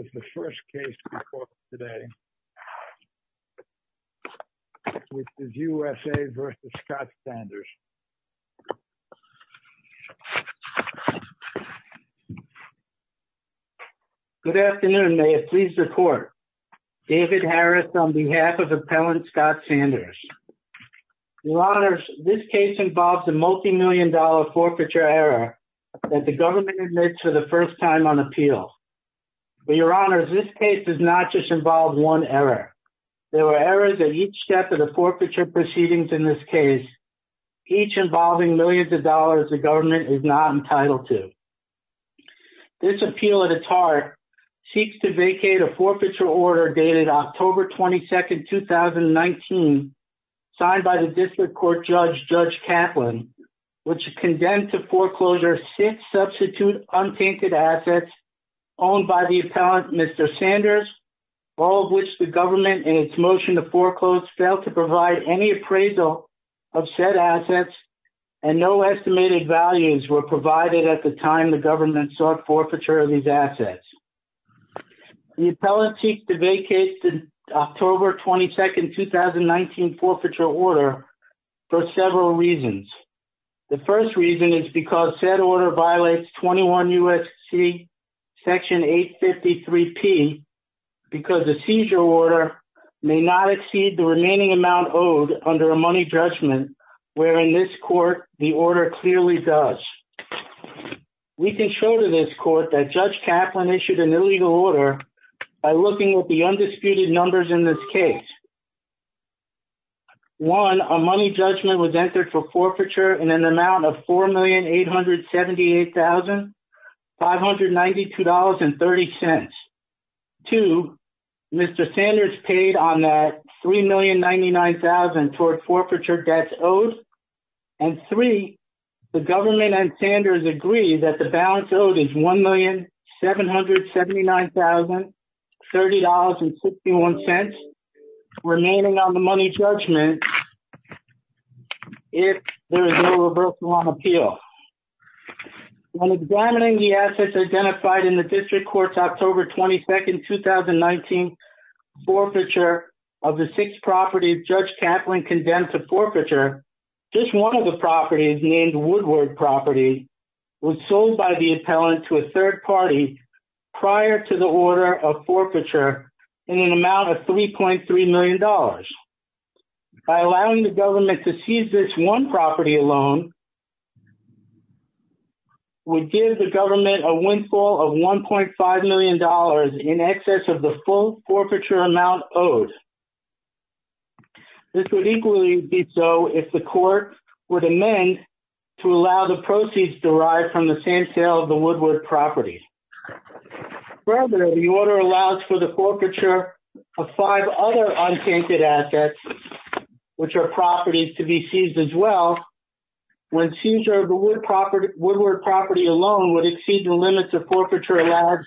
is the first case before us today, which is USA v. Scott Sanders. Good afternoon. May it please the court. David Harris on behalf of Appellant Scott Sanders. Your Honors, this case involves a multi-million dollar forfeiture error that the government admits for the first time on appeal. But Your Honors, this case does not just involve one error. There were errors at each step of the forfeiture proceedings in this case, each involving millions of dollars the government is not entitled to. This appeal at its heart seeks to vacate a forfeiture order dated October 22, 2019, signed by the District Court Judge Judge Kaplan, which condemned to foreclosure six substitute untainted assets owned by the Appellant Mr. Sanders, all of which the government, in its motion to foreclose, failed to provide any appraisal of said assets, and no estimated values were provided at the time the government sought forfeiture of these assets. The Appellant seeks to vacate the October 22, 2019 forfeiture order for several reasons. The first reason is because said order violates 21 U.S.C. Section 853P, because the seizure order may not exceed the remaining amount owed under a money judgment where in this court the order clearly does. We can show to this court that Judge Kaplan issued an illegal order by looking at the undisputed numbers in this case. One, a money judgment was entered for forfeiture in an amount of $4,878,592.30. Two, Mr. Sanders paid on that $3,099,000 toward forfeiture debts owed. And three, the government and the Appellant paid $3,779,030.61 remaining on the money judgment if there is no reversal on appeal. When examining the assets identified in the District Court's October 22, 2019 forfeiture of the six properties Judge Kaplan condemned to forfeiture, just one of the properties named Woodward property was sold by the Appellant to a third party prior to the order of forfeiture in an amount of $3.3 million. By allowing the government to seize this one property alone would give the government a windfall of $1.5 million in excess of the full forfeiture amount owed. This would equally be so if the court would amend to allow the proceeds derived from the same sale of the Woodward property. Further, the order allows for the forfeiture of five other untainted assets, which are properties to be seized as well, when seizure of the Woodward property alone would exceed the limits of forfeiture allowed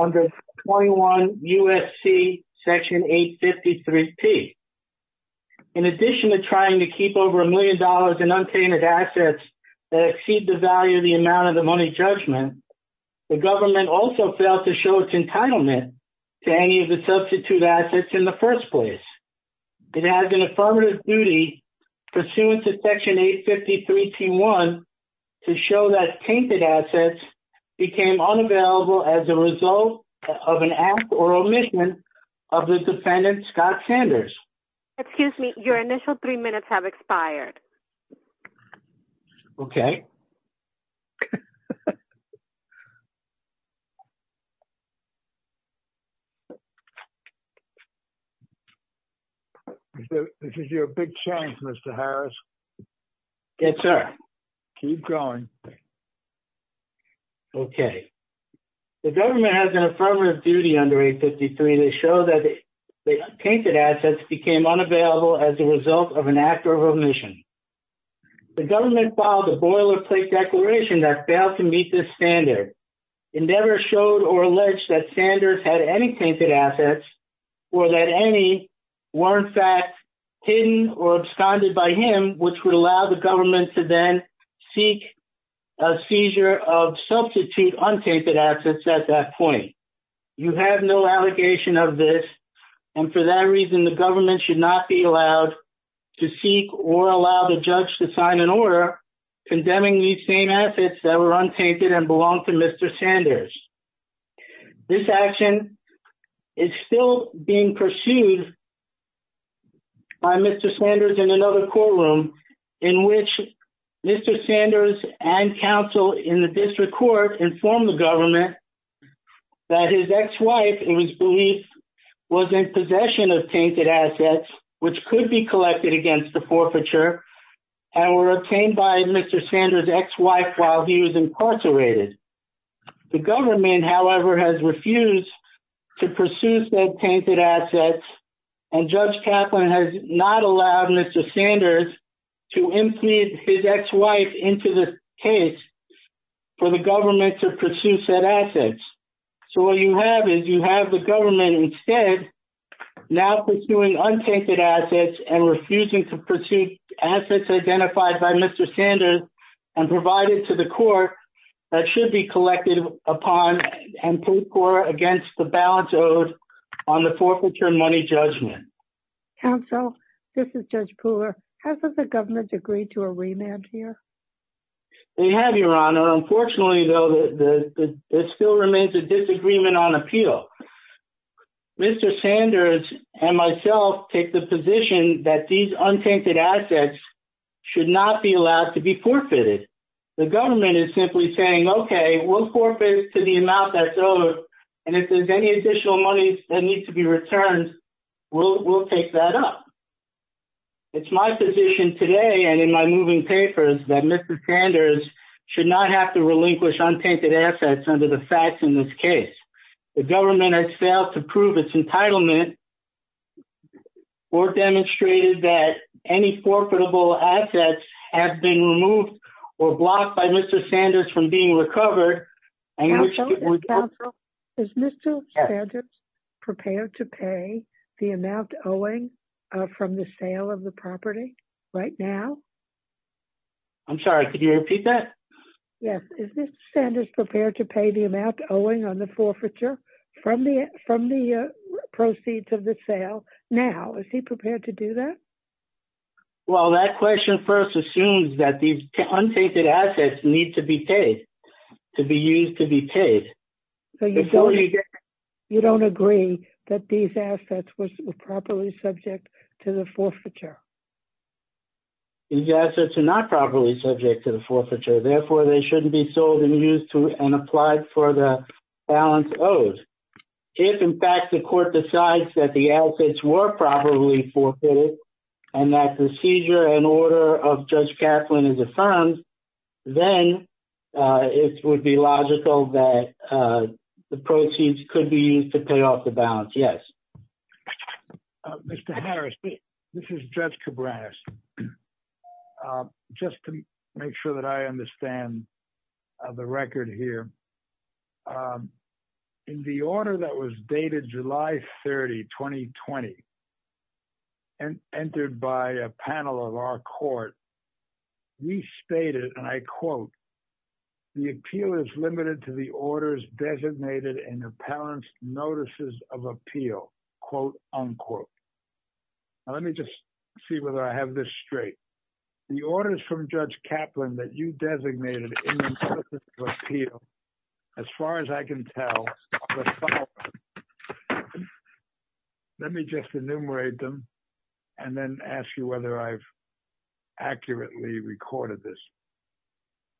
under 21 U.S.C. Section 853P. In addition to trying to keep over a million dollars in untainted assets that exceed the value of the amount of the money judgment, the government also failed to show its entitlement to any of the substitute assets in the first place. It has an affirmative duty pursuant to Section 853T1 to show that tainted assets became unavailable as a result of an act or omission of the defendant, Scott Sanders. Excuse me, your initial three minutes have expired. Okay. This is your big chance, Mr. Harris. Yes, sir. Keep going. Okay. The government has an affirmative duty under 853 to show that the tainted assets became unavailable as a result of an act or omission. The government filed a boilerplate declaration that failed to meet this standard. It never showed or alleged that Sanders had any tainted assets or that any were, in fact, hidden or absconded by him, which would allow the government to then seek a seizure of substitute untainted assets at that point. You have no allegation of this, and for that reason, the government should not be allowed to seek or allow the judge to sign an order condemning these same assets that were untainted and belonged to Mr. Sanders. This action is still being pursued by Mr. Sanders in another courtroom in which Mr. Sanders has told the government that his ex-wife, it was believed, was in possession of tainted assets, which could be collected against the forfeiture, and were obtained by Mr. Sanders' ex-wife while he was incarcerated. The government, however, has refused to pursue said tainted assets, and Judge Kaplan has not allowed Mr. Sanders to impugn his ex-wife into the case for the government to pursue said assets. So what you have is you have the government instead now pursuing untainted assets and refusing to pursue assets identified by Mr. Sanders and provided to the court that should be collected upon and put forth against the balance owed on the forfeiture money judgment. Counsel, this is Judge Pooler. Hasn't the government agreed to a remand here? They have, Your Honor. Unfortunately, though, there still remains a disagreement on appeal. Mr. Sanders and myself take the position that these untainted assets should not be allowed to be forfeited. The government is simply saying, okay, we'll forfeit to the amount that's owed, and if there's any additional money that needs to be returned, we'll take that up. It's my position today and in my moving papers that Mr. Sanders should not have to relinquish untainted assets under the facts in this case. The government has failed to prove its entitlement or demonstrated that any forfeitable assets have been removed or blocked by Mr. Sanders from being recovered. Counsel, is Mr. Sanders prepared to pay the amount owing from the sale of the property right now? I'm sorry, could you repeat that? Yes. Is Mr. Sanders prepared to pay the amount owing on the forfeiture from the proceeds of the sale now? Is he prepared to do that? Well, that question first assumes that these untainted assets need to be paid, to be used to be paid. You don't agree that these assets were properly subject to the forfeiture? These assets are not properly subject to the forfeiture. Therefore, they shouldn't be sold and used and applied for the balance owed. If, in fact, the court decides that the assets were properly forfeited and that the seizure and order of Judge Kaplan is affirmed, then it would be logical that the proceeds could be used to pay off the balance. Yes. Mr. Harris, this is Judge Cabreras. Just to make sure that I understand the record here, in the order that was dated July 30, 2020, and entered by a panel of our court, we stated, and I quote, the appeal is limited to the orders designated in the parent's notices of appeal, quote, unquote. Now, let me just see whether I have this straight. The orders from Judge Kaplan that you designated in the notices of appeal, as far as I can tell, let me just enumerate them and then ask you whether I've accurately recorded this.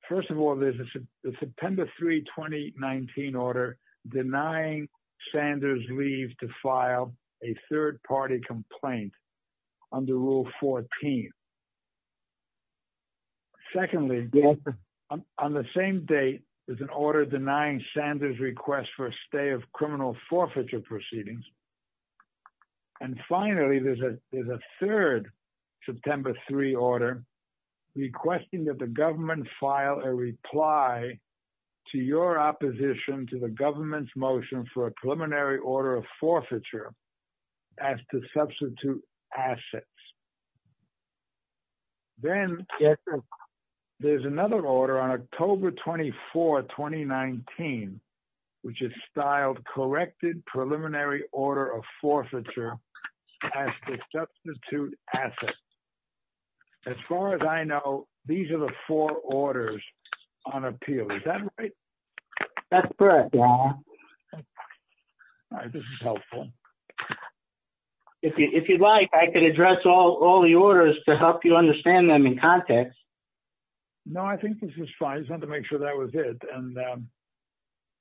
First of all, there's a September 3, 2019 order denying Sanders' leave to file a third party complaint under Rule 14. Secondly, on the same date, there's an order denying Sanders' request for a stay of criminal forfeiture proceedings. And finally, there's a third September 3 order requesting that the government file a reply to your opposition to the government's motion for a preliminary order of forfeiture as to substitute assets. Then, there's another order on October 24, 2019, which is styled, Corrected Preliminary Order of Forfeiture as to Substitute Assets. As far as I know, these are the four orders on appeal. Is that right? That's correct, yeah. All right, this is helpful. If you'd like, I can address all the orders to help you understand them in context. No, I think this is fine. I just wanted to make sure that was it. And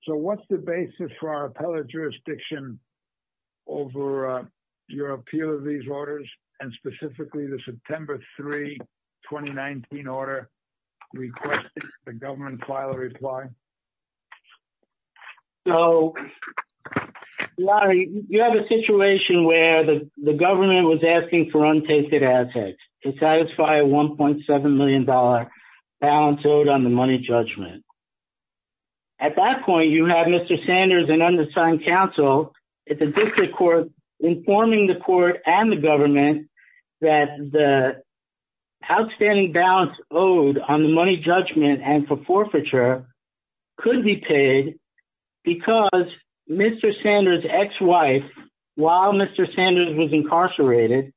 so, what's the basis for our appellate jurisdiction over your appeal of these orders, and specifically the September 3, 2019 order requesting the government file a reply? So, Larry, you have a situation where the government was asking for untested assets to satisfy a $1.7 million balance owed on the money judgment. At that point, you have Mr. Sanders and undersigned counsel at the district court informing the court and the government that the outstanding balance owed on the money judgment and for forfeiture could be paid because Mr. Sanders' ex-wife, while Mr. Sanders was incarcerated,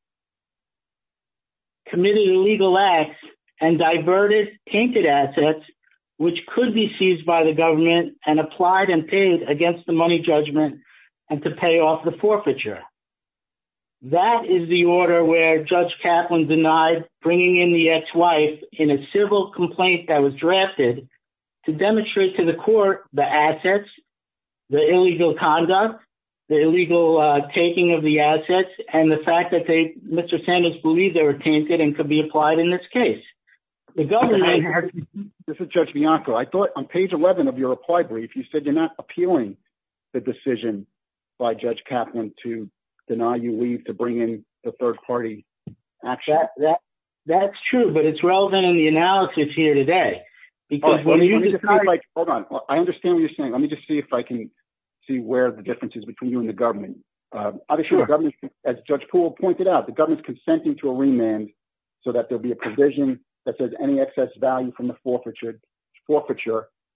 committed illegal acts and diverted tainted assets which could be seized by the government and applied and paid against the money judgment and to pay off the forfeiture. That is the order where Judge Kaplan denied bringing in the ex-wife in a civil complaint that was drafted to demonstrate to the court the assets, the illegal conduct, the illegal taking of the assets, and the fact that they, Mr. Sanders believed they were tainted and could be applied in this case. The government... This is Judge Bianco. I thought on page 11 of your reply brief, you said you're not appealing the decision by Judge Kaplan to deny you leave to bring in the third party. Actually, that's true, but it's relevant in the analysis here today. Hold on. I understand what you're saying. Let me just see if I can see where the difference is between you and the government. Obviously, the government, as Judge Poole pointed out, the government's consenting to a remand so that there'll be a provision that says any excess value from the forfeiture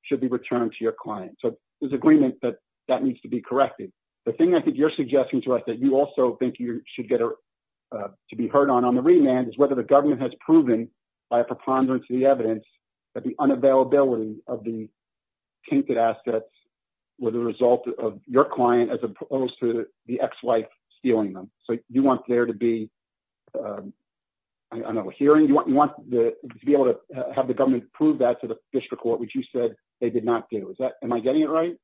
should be returned to your client. So there's agreement that that needs to be corrected. The thing I think you're suggesting to us that you also think you should get to be heard on on the remand is whether the government has proven by a preponderance of the evidence that the unavailability of the tainted assets were the result of your client as opposed to the ex-wife stealing them. So you want there to be... I don't know, a hearing? You want to be able to have the government prove that to the district court, which you said they did not do. Is that... Am I getting it right?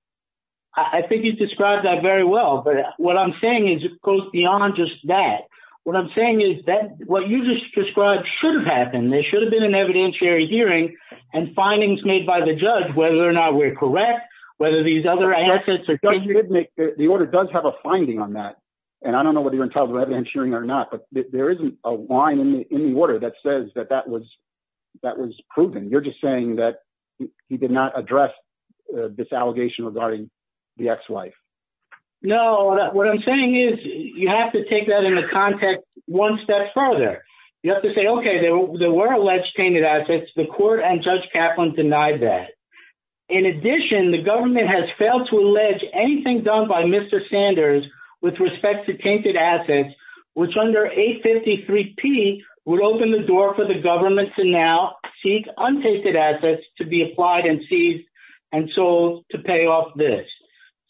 I think you described that very well, but what I'm saying is, of course, beyond just that, what I'm saying is that what you just described should have happened. There should have been an evidentiary hearing and findings made by the judge, whether or not we're correct, whether these other assets are... The order does have a finding on that. And I don't know whether you want to talk about evidentiary or not, but there isn't a line in the order that says that that was proven. You're just saying that he did not address this allegation regarding the ex-wife. No, what I'm saying is you have to take that into context one step further. You have to say, okay, there were alleged tainted assets. The court and Judge Kaplan denied that. In addition, the government has failed to allege anything done by Mr. Sanders with respect to tainted assets, which under 853P would open the door for the government to now seek untainted assets to be applied and seized and sold to pay off this.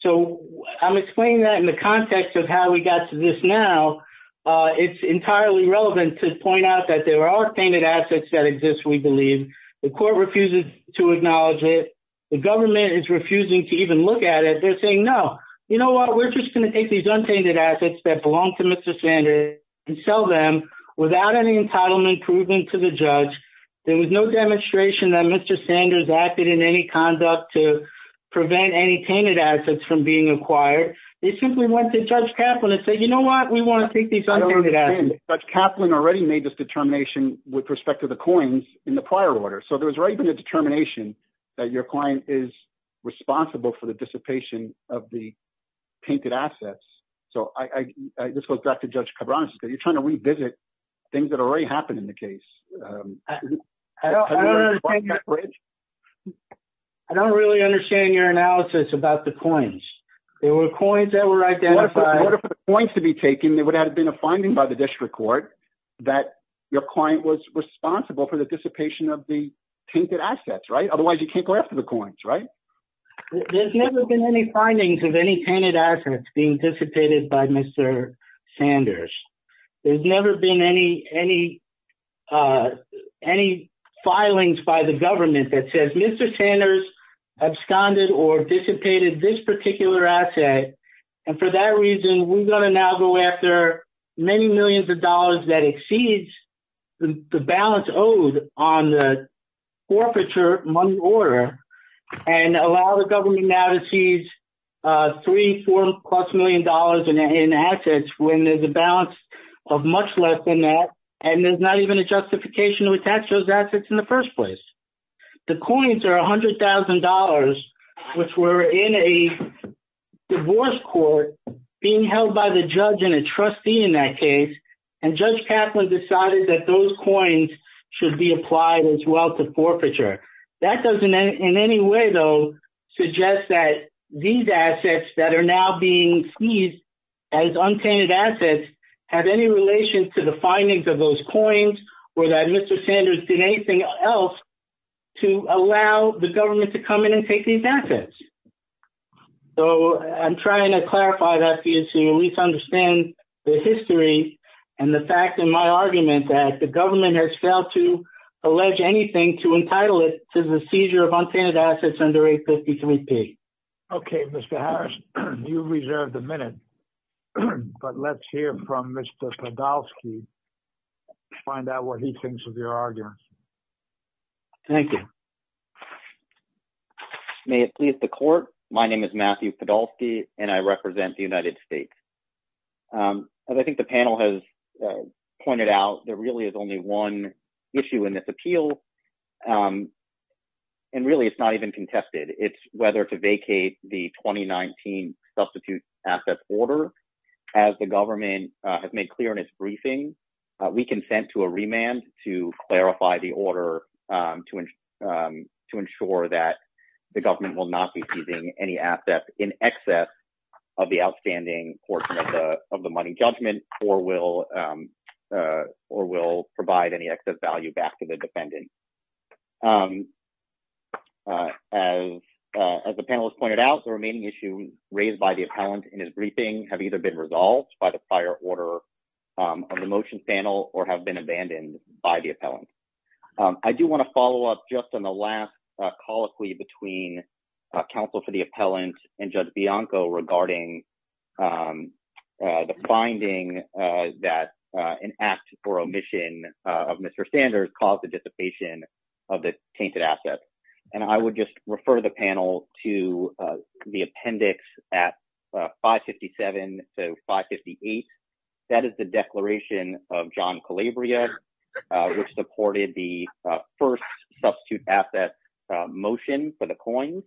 So I'm explaining that in the context of how we got to this now. It's entirely relevant to point out that there are tainted assets that exist, we believe. The court refuses to acknowledge it. The government is refusing to even look at it. They're saying, no, you know what? We're just going to take these untainted assets that belong to Mr. Sanders and sell them without any entitlement proven to the judge. There was no demonstration that Mr. Sanders acted in any conduct to prevent any tainted assets from being acquired. They simply went to Judge Kaplan and said, you know what? We want to take these untainted assets. I don't understand. Judge Kaplan already made this determination with respect to the coins in the prior order. So there was already been a determination that your client is responsible for the dissipation of the tainted assets. So this goes back to Judge Cabrones. You're trying to revisit things that already happened in the case. I don't really understand your analysis about the coins. There were coins that were identified. In order for the coins to be taken, there would have been a finding by the district court that your client was responsible for the dissipation of the tainted assets, right? Otherwise, you can't go after the coins, right? There's never been any findings of any tainted assets being dissipated by Mr. Sanders. There's never been any filings by the government that says, Mr. Sanders absconded or dissipated this particular asset. And for that reason, we're going to now go after many millions of dollars that exceeds the balance owed on the forfeiture money order and allow the government now to seize three, four plus million dollars in assets when there's a balance of much less than that. And there's not even a justification to attach those assets in the first place. The coins are $100,000, which were in a divorce court being held by the judge and a trustee in that case. And Judge Kaplan decided that those coins should be applied as well to forfeiture. That doesn't in any way, though, suggest that these assets that are now being seized as untainted assets have any relation to the findings of those coins or that Mr. Sanders did anything else to allow the government to come in and take these assets. So I'm trying to clarify that for you to at least understand the history and the fact in my argument that the government has failed to allege anything to entitle it to the seizure of untainted assets under 853P. Okay, Mr. Harris, you reserved a minute. But let's hear from Mr. Podolsky, find out what he thinks of your argument. Thank you. May it please the court. My name is Matthew Podolsky, and I represent the United States. As I think the panel has pointed out, there really is only one issue in this appeal. And really, it's not even contested. It's whether to vacate the 2019 substitute assets order. As the government has made clear in its briefing, we consent to a remand to clarify the order to ensure that the government will not be using any assets in excess of the outstanding portion of the money judgment or will provide any excess value back to the defendant. As the panel has pointed out, the remaining issues raised by the appellant in his briefing have either been resolved by the prior order on the motion panel or have been abandoned by the appellant. I do want to follow up just on the last colloquy between counsel for the appellant and Judge of the Tainted Assets. And I would just refer the panel to the appendix at 557 to 558. That is the declaration of John Calabria, which supported the first substitute assets motion for the coins.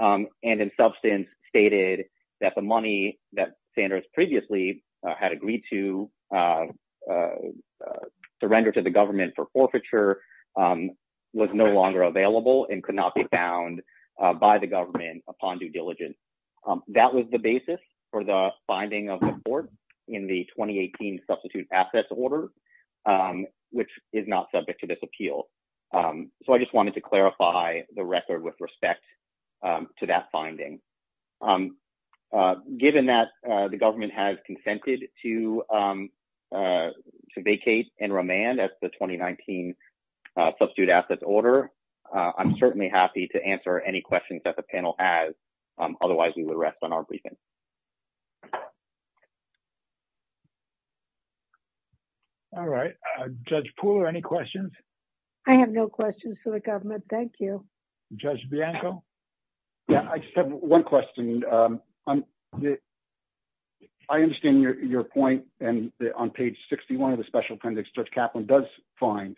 And in substance, stated that the money that Sanders previously had agreed to render to the government for forfeiture was no longer available and could not be found by the government upon due diligence. That was the basis for the finding of the court in the 2018 substitute assets order, which is not subject to this appeal. So I just wanted to clarify the record with respect to that finding. I'm given that the government has consented to to vacate and remand at the 2019 substitute assets order. I'm certainly happy to answer any questions that the panel has. Otherwise, we would rest on our briefing. All right, Judge Poole, any questions? I have no questions for the government. Thank you, Judge Bianco. Yeah, I just have one question. I understand your point. And on page 61 of the special appendix, Judge Kaplan does find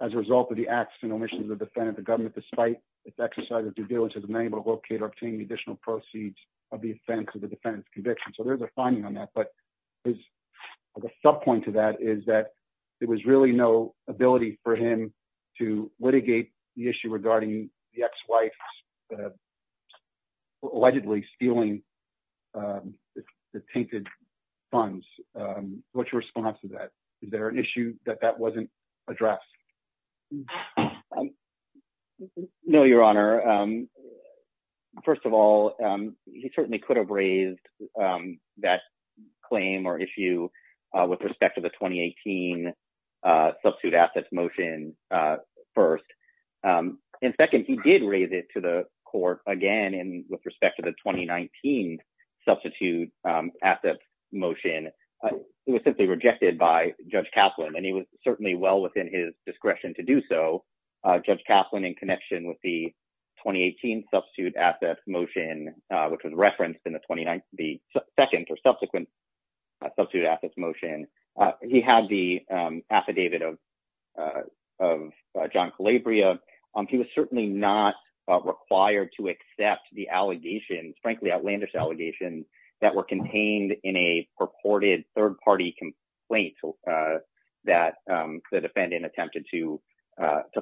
as a result of the acts and omissions of the defendant, the government, despite its exercise of due diligence, has been able to locate or obtain the additional proceeds of the offense of the defendant's conviction. So there's a finding on that. But his sub point to that is that there was really no ability for him to litigate the the ex-wife's allegedly stealing the tainted funds. What's your response to that? Is there an issue that that wasn't addressed? No, Your Honor. First of all, he certainly could have raised that claim or issue with respect to the 2018 substitute assets motion first. And second, he did raise it to the court again. And with respect to the 2019 substitute assets motion, it was simply rejected by Judge Kaplan. And he was certainly well within his discretion to do so. Judge Kaplan, in connection with the 2018 substitute assets motion, which was referenced in the 29th, the second or subsequent substitute assets motion, he had the affidavit of of non-collabria. He was certainly not required to accept the allegations, frankly, outlandish allegations that were contained in a purported third-party complaint that the defendant attempted to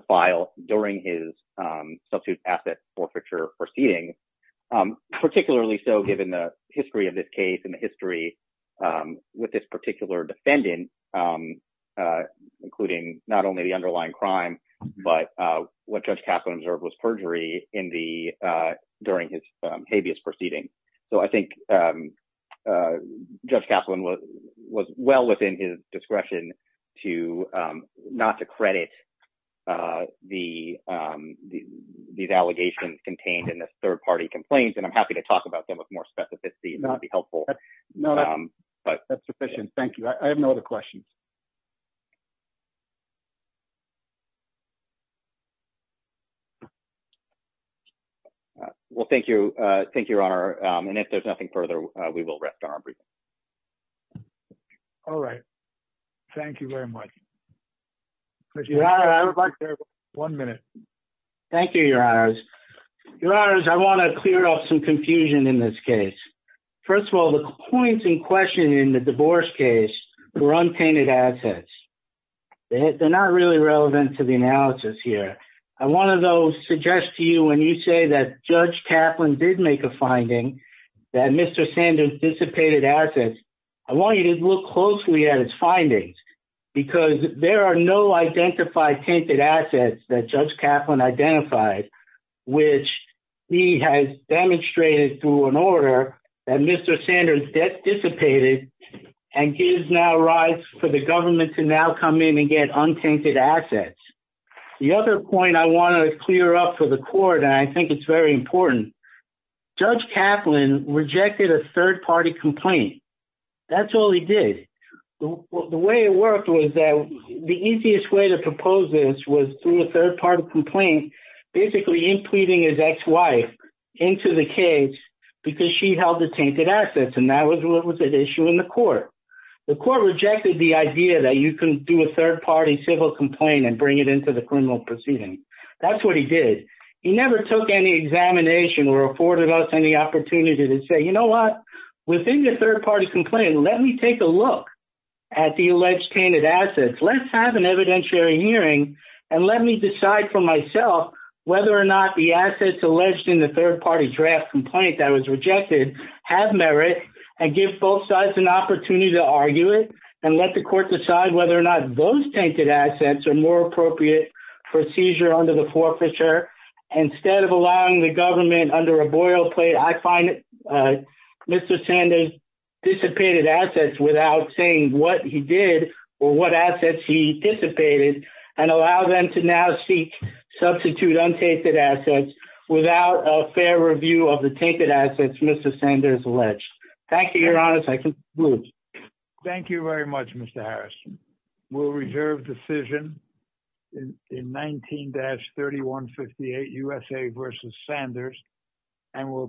file during his substitute assets forfeiture proceedings. Particularly so given the history of this case and the history with this particular defendant, including not only the underlying crime, but what Judge Kaplan observed was perjury during his habeas proceeding. So I think Judge Kaplan was well within his discretion not to credit these allegations contained in the third-party complaints. And I'm happy to talk about them with more specificity if that would be helpful. No, that's sufficient. Thank you. I have no other questions. Well, thank you. Thank you, Your Honor. And if there's nothing further, we will rest on our briefing. All right. Thank you very much. I would like to have one minute. Thank you, Your Honors. Your Honors, I want to clear up some confusion in this case. First of all, the points in question in the divorce case were untainted assets. They're not really relevant to the analysis here. I want to suggest to you when you say that Judge Kaplan did make a finding that Mr. Sanders dissipated assets, I want you to look closely at his findings. Because there are no identified tainted assets that Judge Kaplan identified, which he has demonstrated through an order that Mr. Sanders dissipated and gives now rise for the government to now come in and get untainted assets. The other point I want to clear up for the court, and I think it's very important, Judge Kaplan rejected a third-party complaint. That's all he did. The way it worked was that the easiest way to propose this was through a third-party complaint. Basically, impleting his ex-wife into the case because she held the tainted assets, and that was what was at issue in the court. The court rejected the idea that you can do a third-party civil complaint and bring it into the criminal proceeding. That's what he did. He never took any examination or afforded us any opportunity to say, you know what? Within the third-party complaint, let me take a look at the alleged tainted assets. Let's have an evidentiary hearing and let me decide for myself whether or not the assets alleged in the third-party draft complaint that was rejected have merit and give both sides an opportunity to argue it and let the court decide whether or not those tainted assets are more appropriate for seizure under the forfeiture. Instead of allowing the government under a boilplate, I find Mr. Sanders dissipated assets without saying what he did or what assets he dissipated and allow them to now seek substitute untainted assets without a fair review of the tainted assets Mr. Sanders alleged. Thank you, Your Honor. I conclude. Thank you very much, Mr. Harris. We'll reserve decision in 19-3158, USA v. Sanders, and we'll